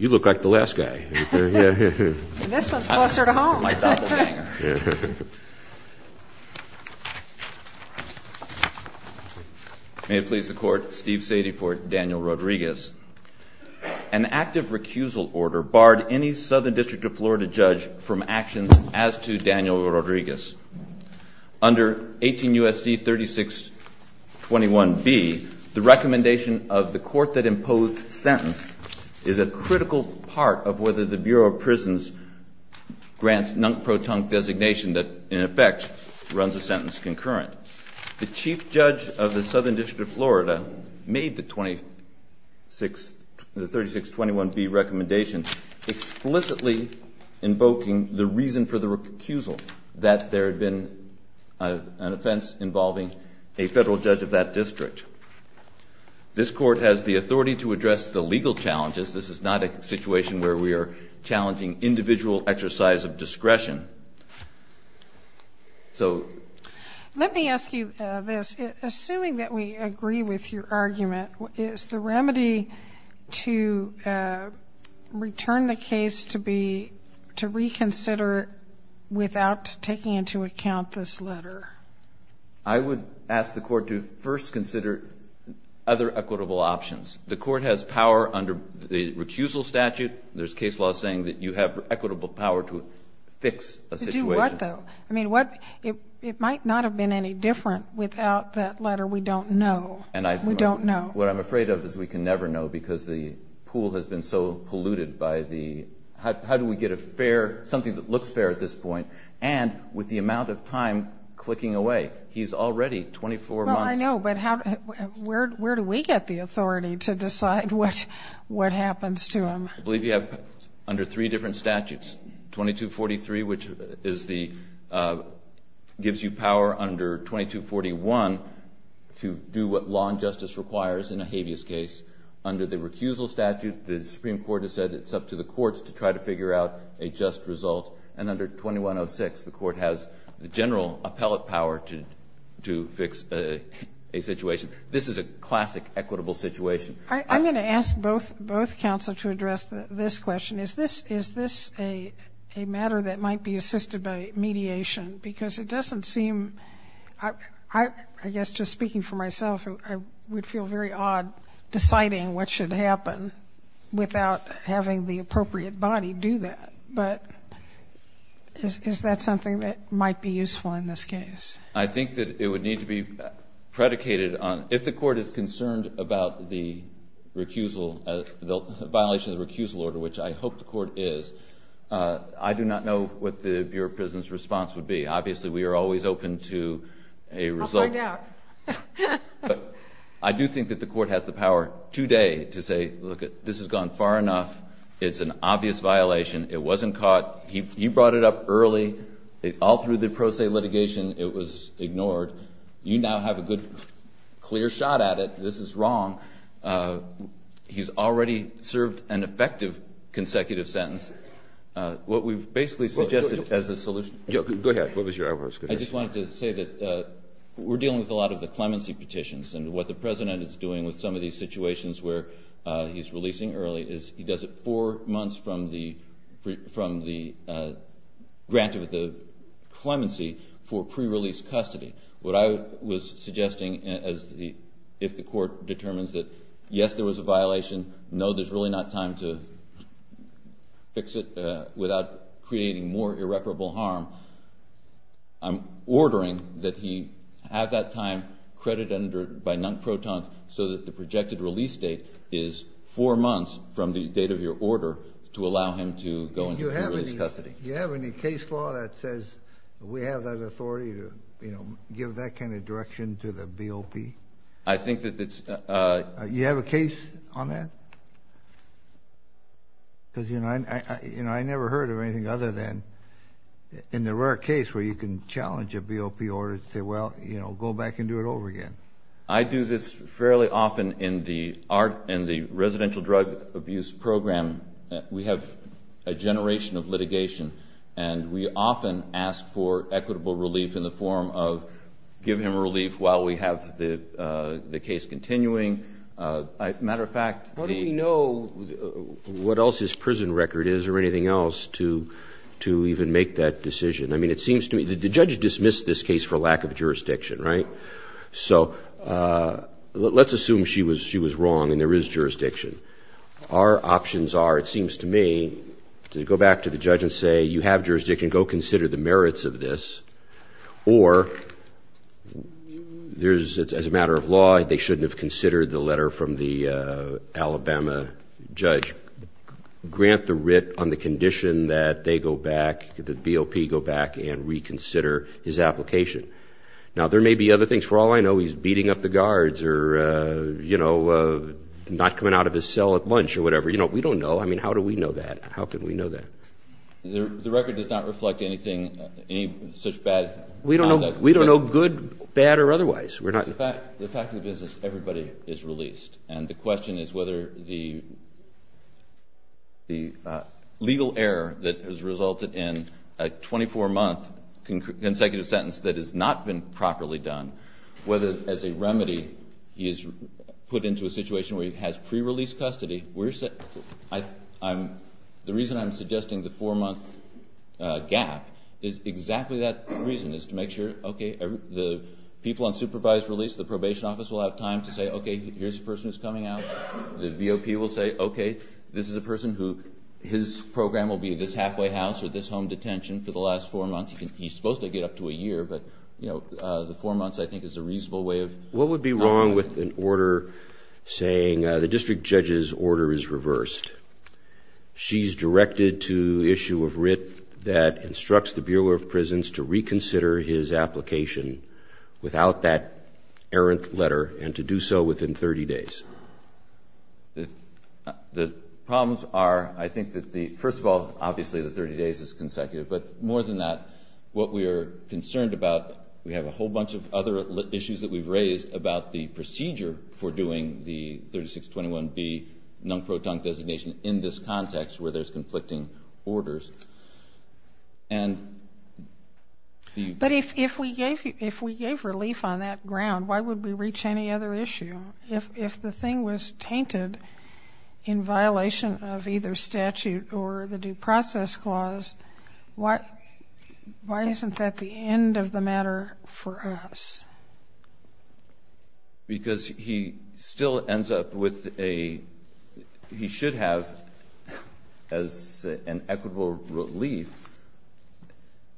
May it please the Court, Steve Sadie for Daniel Rodriguez. An active recusal order barred any Southern District of Florida judge from action as to Daniel Rodriguez. Under 18 U.S. C-3621B, the recommendation of the court that imposed sentence is a critical part of whether the Bureau of Prisons grants non-proton designation that in effect runs a sentence concurrent. The Chief Judge of the Southern District of Florida made the 3621B recommendation explicitly invoking the reason for the recusal, that there had been an offense involving a federal judge of that district. This Court has the authority to address the legal challenges. This is not a situation where we are challenging individual exercise of discretion. Let me ask you this. Assuming that we agree with your argument, is the remedy to return the case to reconsider without taking into account this letter? I would ask the court to first consider other equitable options. The court has power under the recusal statute. There's case law saying that you have equitable power to fix a situation. To do what, though? I mean, it might not have been any different without that letter. We don't know. We don't know. What I'm afraid of is we can never know because the pool has been so polluted by the, how do we get a fair, something that looks fair at this point, and with the amount of time clicking away? He's already 24 months. Well, I know, but how, where do we get the authority to decide what happens to him? I believe you have under three different statutes. 2243, which is the, gives you power under 2241 to do what law and justice requires in a habeas case. Under the recusal statute, the Supreme Court has said it's up to the courts to try to figure out a just result. And under 2106, the court has the general appellate power to fix a situation. This is a classic equitable situation. I'm going to ask both counsel to address this question. Is this a matter that might be assisted by mediation? Because it doesn't seem, I guess just speaking for myself, I would feel very odd deciding what should happen without having the appropriate body do that. But is that something that might be useful in this case? I think that it would need to be predicated on, if the court is concerned about the recusal, the violation of the recusal order, which I hope the court is, I do not know what the Bureau of Prisons response would be. Obviously, we are always open to a result. I'll find out. I do think that the court has the power today to say, look, this has gone far enough. It's an obvious violation. It wasn't caught. He brought it up early. All through the pro se litigation, it was ignored. You now have a good, clear shot at it. This is wrong. He's already served an effective consecutive sentence. What we've basically suggested as a solution... Go ahead. What was your other question? I just wanted to say that we're dealing with a lot of the clemency petitions. And what the president is doing with some of these granted with the clemency for pre-release custody. What I was suggesting, if the court determines that, yes, there was a violation, no, there's really not time to fix it without creating more irreparable harm, I'm ordering that he have that time credited by non-proton so that the projected release date is four months from the date of your order to allow him to go into pre-release custody. Do you have any case law that says we have that authority to give that kind of direction to the BOP? I think that it's... Do you have a case on that? Because I never heard of anything other than in the rare case where you can challenge a BOP order to say, well, go back and do it over again. I do this fairly often in the residential drug abuse program. We have a generation of litigation, and we often ask for equitable relief in the form of give him relief while we have the case continuing. As a matter of fact... How do we know what else his prison record is or anything else to even make that decision? I mean, it seems to me... The judge dismissed this case for lack of jurisdiction, right? So, let's assume she was wrong and there is jurisdiction. Our options are, it seems to me, to go back to the judge and say, you have jurisdiction, go consider the merits of this. Or, as a matter of law, they shouldn't have considered the letter from the Alabama judge. Grant the writ on the condition that they go back, the BOP go back and reconsider his application. Now, there may be other things. For all I know, he's beating up the guards or not coming out of his cell at lunch or whatever. We don't know. I mean, how do we know that? How can we know that? The record does not reflect any such bad conduct? We don't know good, bad, or otherwise. The fact of the business, everybody is released. And the question is whether the legal error that has resulted in a 24-month consecutive sentence that has not been properly done, whether, as a remedy, he is put into a situation where he has pre-release custody. The reason I'm suggesting the four-month gap is exactly that reason, is to make sure, okay, the people on supervised release, the probation office will have time to say, okay, here's a person who's coming out. The BOP will say, okay, this is a person who, his program will be this halfway house or this home detention for the last four months. He's supposed to get up to a year, but, you know, the four months, I think, is a reasonable way of... What would be wrong with an order saying the district judge's order is reversed? She's directed to issue a writ that instructs the Bureau of Prisons to reconsider his application without that errant letter and to do so within 30 days. The problems are, I think that the... First of all, obviously, the 30 days is consecutive. But more than that, what we are concerned about, we have a whole bunch of other issues that we've raised about the procedure for doing the 3621B non-proton designation in this context where there's conflicting orders. And... But if we gave relief on that ground, why would we reach any other issue? If the thing was tainted in violation of either statute or the due process clause, why isn't that the end of the matter for us? Because he still ends up with a... He should have, as an equitable relief...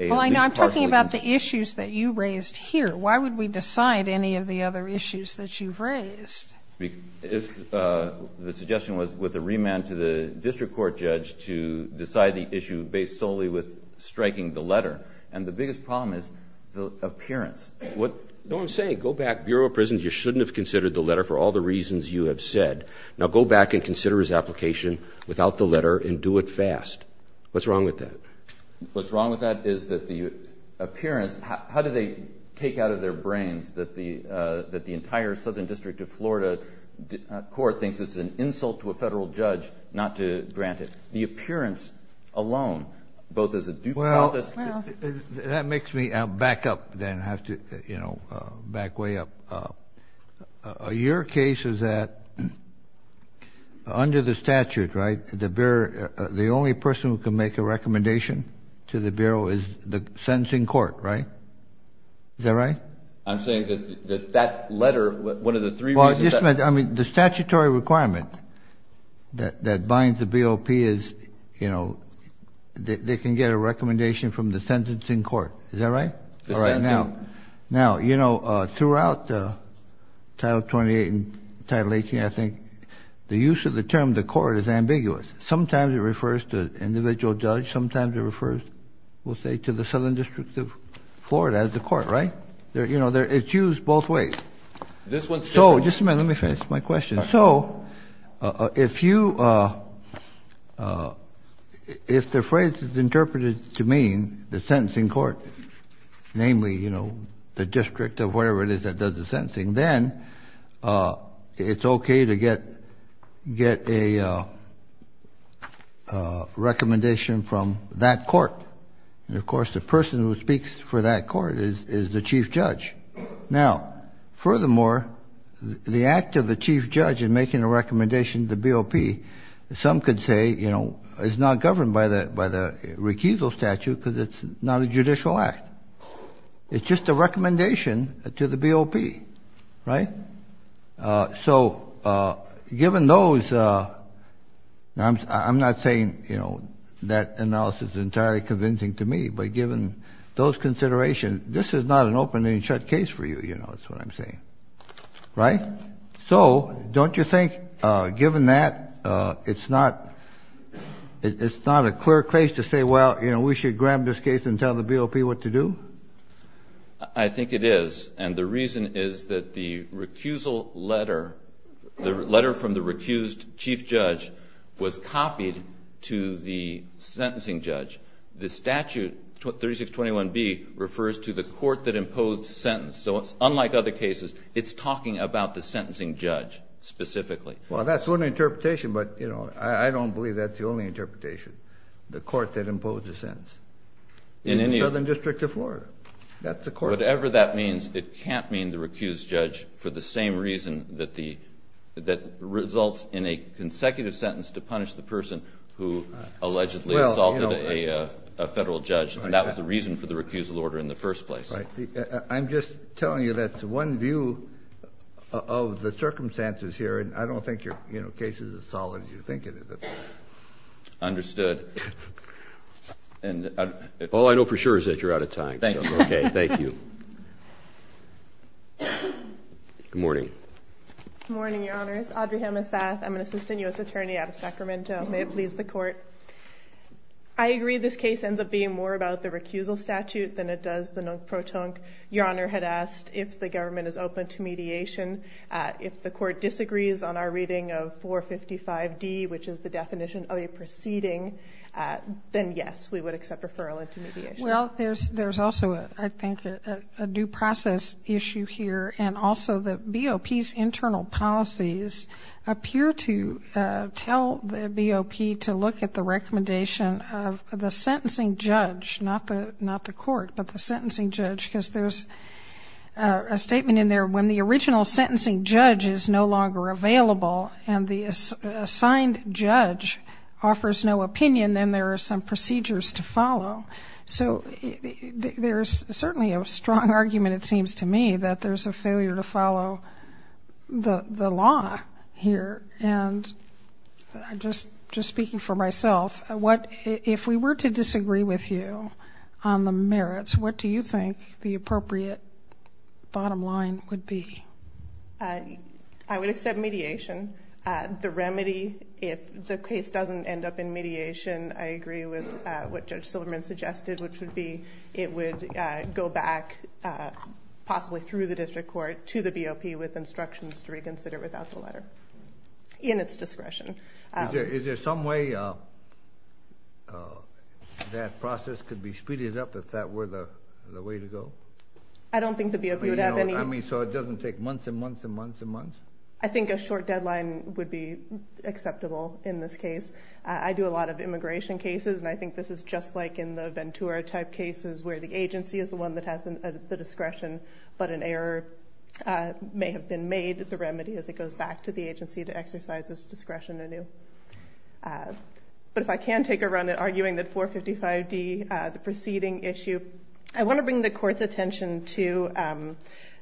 Well, I know I'm talking about the issues that you raised here. Why would we decide any of the other issues that you've raised? The suggestion was with a remand to the district court judge to decide the issue based solely with striking the letter. And the biggest problem is the appearance. No, I'm saying go back, Bureau of Prisons, you shouldn't have considered the letter for all the reasons you have said. Now go back and consider his application without the letter and do it fast. What's wrong with that? What's wrong with that is that the appearance... How do they take out of their brains that the entire Southern District of Florida court thinks it's an insult to a federal judge not to grant it? The appearance alone, both as a due process... Well, that makes me back up then, have to, you know, back way up. Your case is that under the statute, right, the only person who can make a recommendation to the Bureau is the sentencing court, right? Is that right? I'm saying that that letter, one of the three reasons... I mean, the statutory requirement that binds the BOP is, you know, they can get a recommendation from the sentencing court. Is that right? The sentencing... Now, you know, throughout Title 28 and Title 18, I think, the use of the term the court is ambiguous. Sometimes it refers to an individual judge, sometimes it refers, we'll say, to the Southern District of Florida as the court, right? You know, it's used both ways. This one's... So, just a minute, let me finish my question. So, if you... If the phrase is interpreted to mean the sentencing court, namely, you know, the district or whatever it is that does the sentencing, then it's okay to get a recommendation from that court. And, of course, the person who speaks for that court is the chief judge. Now, furthermore, the act of the chief judge in making a recommendation to the BOP, some could say, you know, is not governed by the recusal statute because it's not a judicial act. It's just a recommendation to the BOP, right? So, given those... I'm not saying, you know, that analysis is entirely convincing to me, but given those considerations, this is not an open and shut case for you, you know, is what I'm saying. Right? So, don't you think, given that, it's not a clear case to say, well, you know, we should grab this case and tell the BOP what to do? I think it is, and the reason is that the recusal letter, the letter from the recused chief judge, was copied to the sentencing judge. The statute, 3621B, refers to the court that imposed the sentence. So, unlike other cases, it's talking about the sentencing judge specifically. Well, that's one interpretation, but, you know, I don't believe that's the only interpretation, the court that imposed the sentence in the Southern District of Florida. That's the court. Whatever that means, it can't mean the recused judge for the same reason that results in a consecutive sentence to punish the person who allegedly assaulted a federal judge, and that was the reason for the recusal order in the first place. Right. I'm just telling you that's one view of the circumstances here, and I don't think your case is as solid as you think it is. Understood. All I know for sure is that you're out of time. Thank you. Okay. Thank you. Good morning. Good morning, Your Honors. Adriana Sath. I'm an assistant U.S. attorney out of Sacramento. May it please the Court. I agree this case ends up being more about the recusal statute than it does the non-protonc. Your Honor had asked if the government is open to mediation. If the Court disagrees on our reading of 455D, which is the definition of a proceeding, then yes, we would accept referral into mediation. Well, there's also, I think, a due process issue here, and also the BOP's internal policies appear to tell the BOP to look at the recommendation of the sentencing judge, not the Court, but the sentencing judge, because there's a statement in there, when the original sentencing judge is no longer available and the assigned judge offers no opinion, then there are some procedures to follow. So there's certainly a strong argument, it seems to me, that there's a failure to follow the law here. And I'm just speaking for myself. If we were to disagree with you on the merits, what do you think the appropriate bottom line would be? I would accept mediation. The remedy, if the case doesn't end up in mediation, I agree with what Judge Silverman suggested, which would be it would go back, possibly through the district court, to the BOP with instructions to reconsider without the letter, in its discretion. Is there some way that process could be speeded up, if that were the way to go? I don't think the BOP would have any... I mean, so it doesn't take months and months and months and months? I think a short deadline would be acceptable in this case. I do a lot of immigration cases, and I think this is just like in the Ventura-type cases, where the agency is the one that has the discretion, but an error may have been made. The remedy is it goes back to the agency to exercise its discretion anew. But if I can take a run at arguing that 455D, the preceding issue, I want to bring the Court's attention to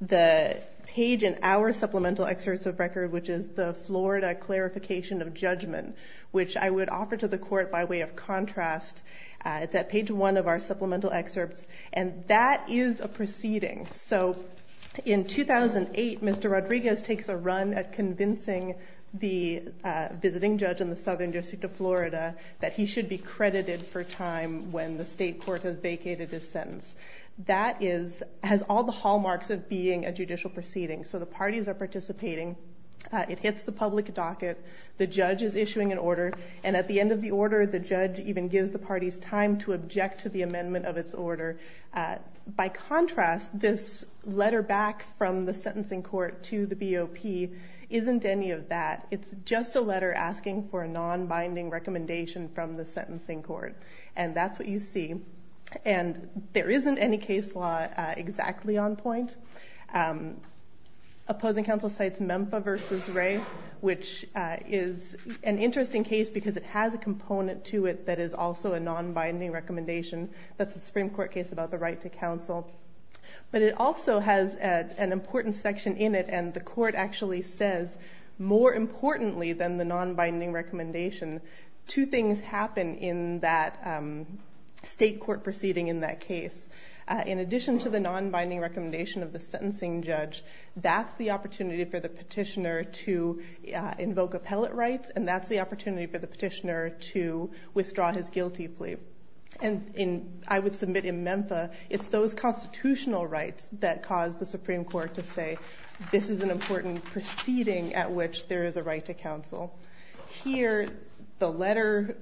the page in our supplemental excerpts of record, which is the Florida Clarification of Judgment, which I would offer to the Court by way of contrast. It's at page one of our supplemental excerpts. And that is a proceeding. So in 2008, Mr. Rodriguez takes a run at convincing the visiting judge in the Southern District of Florida that he should be credited for time when the state court has vacated his sentence. That has all the hallmarks of being a judicial proceeding. So the parties are participating. It hits the public docket. The judge is issuing an order, and at the end of the order, the judge even gives the parties time to object to the amendment of its order. By contrast, this letter back from the sentencing court to the BOP isn't any of that. It's just a letter asking for a non-binding recommendation from the sentencing court. And that's what you see. And there isn't any case law exactly on point. Opposing counsel cites MEMPA v. Wray, which is an interesting case because it has a component to it that is also a non-binding recommendation. That's a Supreme Court case about the right to counsel. But it also has an important section in it, and the Court actually says more importantly than the non-binding recommendation, two things happen in that state court proceeding in that case. In addition to the non-binding recommendation of the sentencing judge, that's the opportunity for the petitioner to invoke appellate rights, and that's the opportunity for the petitioner to withdraw his guilty plea. And I would submit in MEMPA it's those constitutional rights that cause the Supreme Court to say, this is an important proceeding at which there is a right to counsel. Here, the letter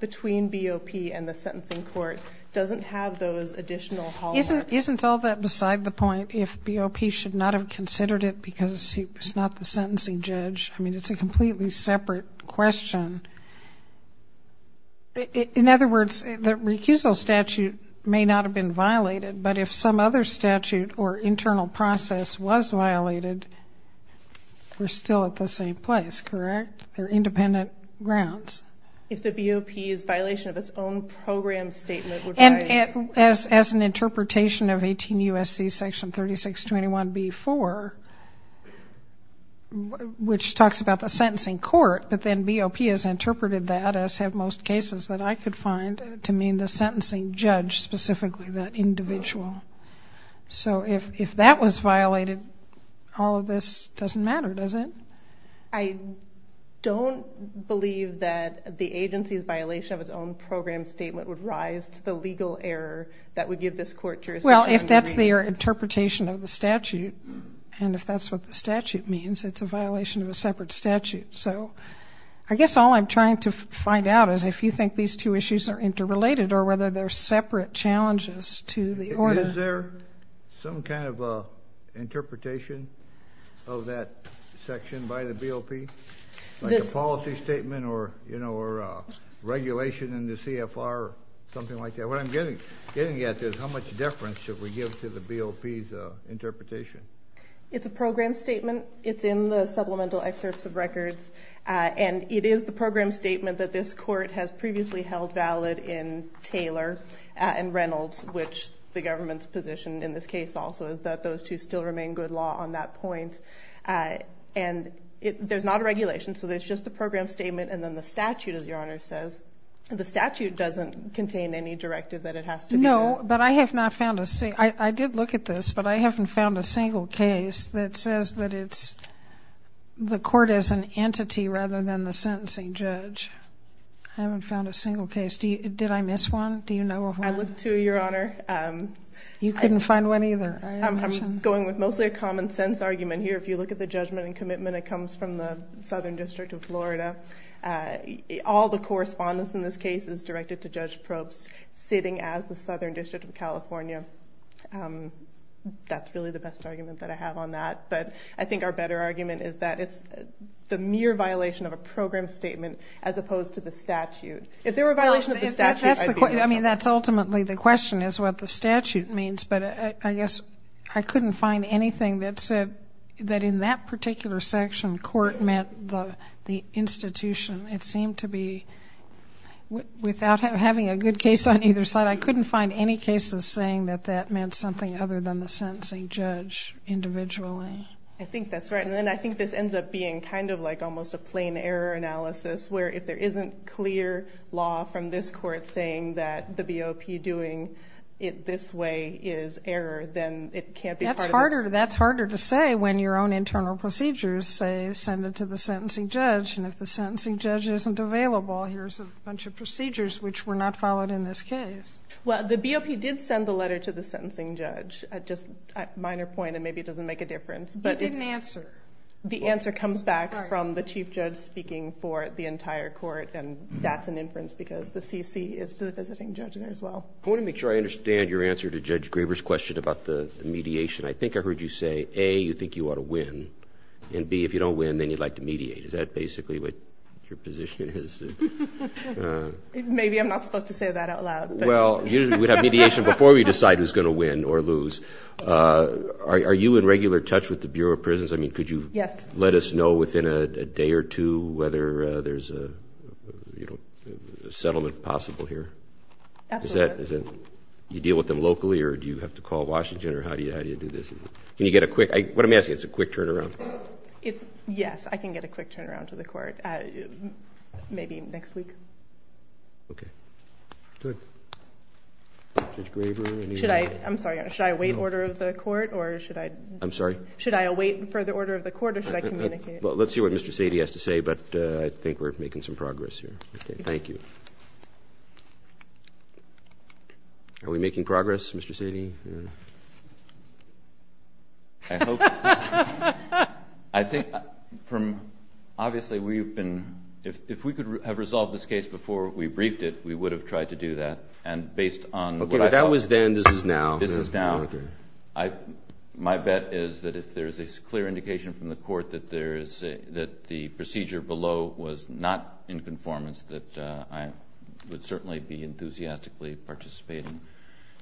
between BOP and the sentencing court doesn't have those additional hallmarks. Isn't all that beside the point if BOP should not have considered it because it's not the sentencing judge? I mean, it's a completely separate question. In other words, the recusal statute may not have been violated, but if some other statute or internal process was violated, we're still at the same place, correct? They're independent grounds. If the BOP's violation of its own program statement would rise. As an interpretation of 18 U.S.C. section 3621b-4, which talks about the sentencing court, but then BOP has interpreted that, as have most cases that I could find, to mean the sentencing judge specifically, the individual. So if that was violated, all of this doesn't matter, does it? I don't believe that the agency's violation of its own program statement would rise to the legal error that would give this court jurisdiction. Well, if that's their interpretation of the statute, and if that's what the statute means, it's a violation of a separate statute. So I guess all I'm trying to find out is if you think these two issues are interrelated or whether they're separate challenges to the order. Is there some kind of interpretation of that section by the BOP? Like a policy statement or regulation in the CFR or something like that? What I'm getting at is how much deference should we give to the BOP's interpretation? It's a program statement. It's in the supplemental excerpts of records. And it is the program statement that this court has previously held valid in Taylor and Reynolds, which the government's position in this case also is that those two still remain good law on that point. And there's not a regulation, so it's just a program statement. And then the statute, as Your Honor says, the statute doesn't contain any directive that it has to be. No, but I have not found a single case. I did look at this, but I haven't found a single case that says that it's the court as an entity rather than the sentencing judge. I haven't found a single case. Did I miss one? Do you know of one? I looked, too, Your Honor. You couldn't find one either. I'm going with mostly a common sense argument here. If you look at the judgment and commitment, it comes from the Southern District of Florida. All the correspondence in this case is directed to Judge Probst, sitting as the Southern District of California. That's really the best argument that I have on that. But I think our better argument is that it's the mere violation of a program statement as opposed to the statute. If there were a violation of the statute, I'd be in trouble. I mean, that's ultimately the question is what the statute means. But I guess I couldn't find anything that said that in that particular section, court meant the institution. It seemed to be without having a good case on either side, I couldn't find any cases saying that that meant something other than the sentencing judge individually. I think that's right. And then I think this ends up being kind of like almost a plain error analysis where if there isn't clear law from this court saying that the BOP doing it this way is error, then it can't be part of this. That's harder to say when your own internal procedures say send it to the sentencing judge. And if the sentencing judge isn't available, here's a bunch of procedures which were not followed in this case. Well, the BOP did send the letter to the sentencing judge, just a minor point, and maybe it doesn't make a difference. It didn't answer. The answer comes back from the chief judge speaking for the entire court, and that's an inference because the CC is the visiting judge there as well. I want to make sure I understand your answer to Judge Graber's question about the mediation. I think I heard you say, A, you think you ought to win, and, B, if you don't win, then you'd like to mediate. Is that basically what your position is? Maybe I'm not supposed to say that out loud. Well, we'd have mediation before we decide who's going to win or lose. Are you in regular touch with the Bureau of Prisons? I mean, could you let us know within a day or two whether there's a settlement possible here? Absolutely. Do you deal with them locally, or do you have to call Washington, or how do you do this? Can you get a quick? What I'm asking is a quick turnaround. Yes, I can get a quick turnaround to the court, maybe next week. Okay. Good. Judge Graber? I'm sorry. Should I await order of the court, or should I? I'm sorry? Should I await further order of the court, or should I communicate? Well, let's see what Mr. Sadie has to say, but I think we're making some progress here. Okay. Thank you. Are we making progress, Mr. Sadie? I hope. I think from ñ obviously, we've been ñ if we could have resolved this case before we briefed it, we would have tried to do that. Okay, if that was then, this is now. This is now. My bet is that if there is a clear indication from the court that the procedure below was not in conformance, that I would certainly be enthusiastically participating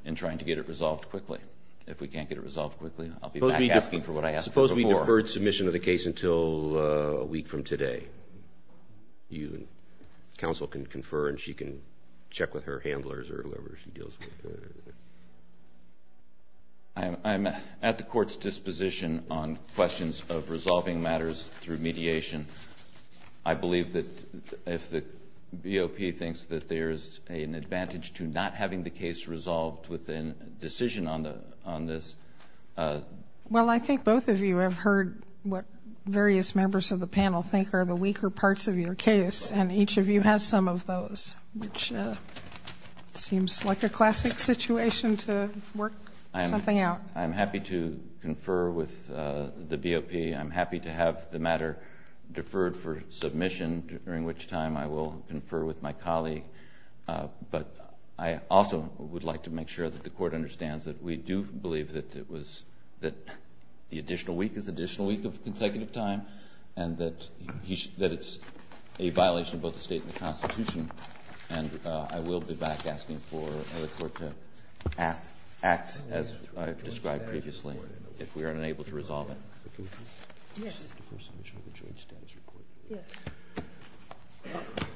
in trying to get it resolved quickly. If we can't get it resolved quickly, I'll be back asking for what I asked for before. Suppose we deferred submission of the case until a week from today. You and counsel can confer, and she can check with her handlers or whoever she deals with. I'm at the court's disposition on questions of resolving matters through mediation. I believe that if the BOP thinks that there is an advantage to not having the case resolved within a decision on this. Well, I think both of you have heard what various members of the panel think are the weaker parts of your case, and each of you has some of those, which seems like a classic situation to work something out. I'm happy to confer with the BOP. I'm happy to have the matter deferred for submission, during which time I will confer with my colleague. But I also would like to make sure that the court understands that we do believe that it was, that the additional week is an additional week of consecutive time, and that it's a violation of both the State and the Constitution. And I will be back asking for the court to act as I've described previously, if we are unable to resolve it. Yes. Yes.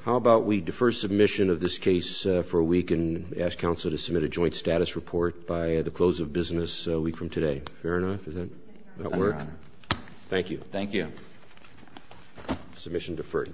How about we defer submission of this case for a week and ask counsel to submit a joint status report by the close of business a week from today. Fair enough? Does that work? Thank you. Thank you. Submission deferred.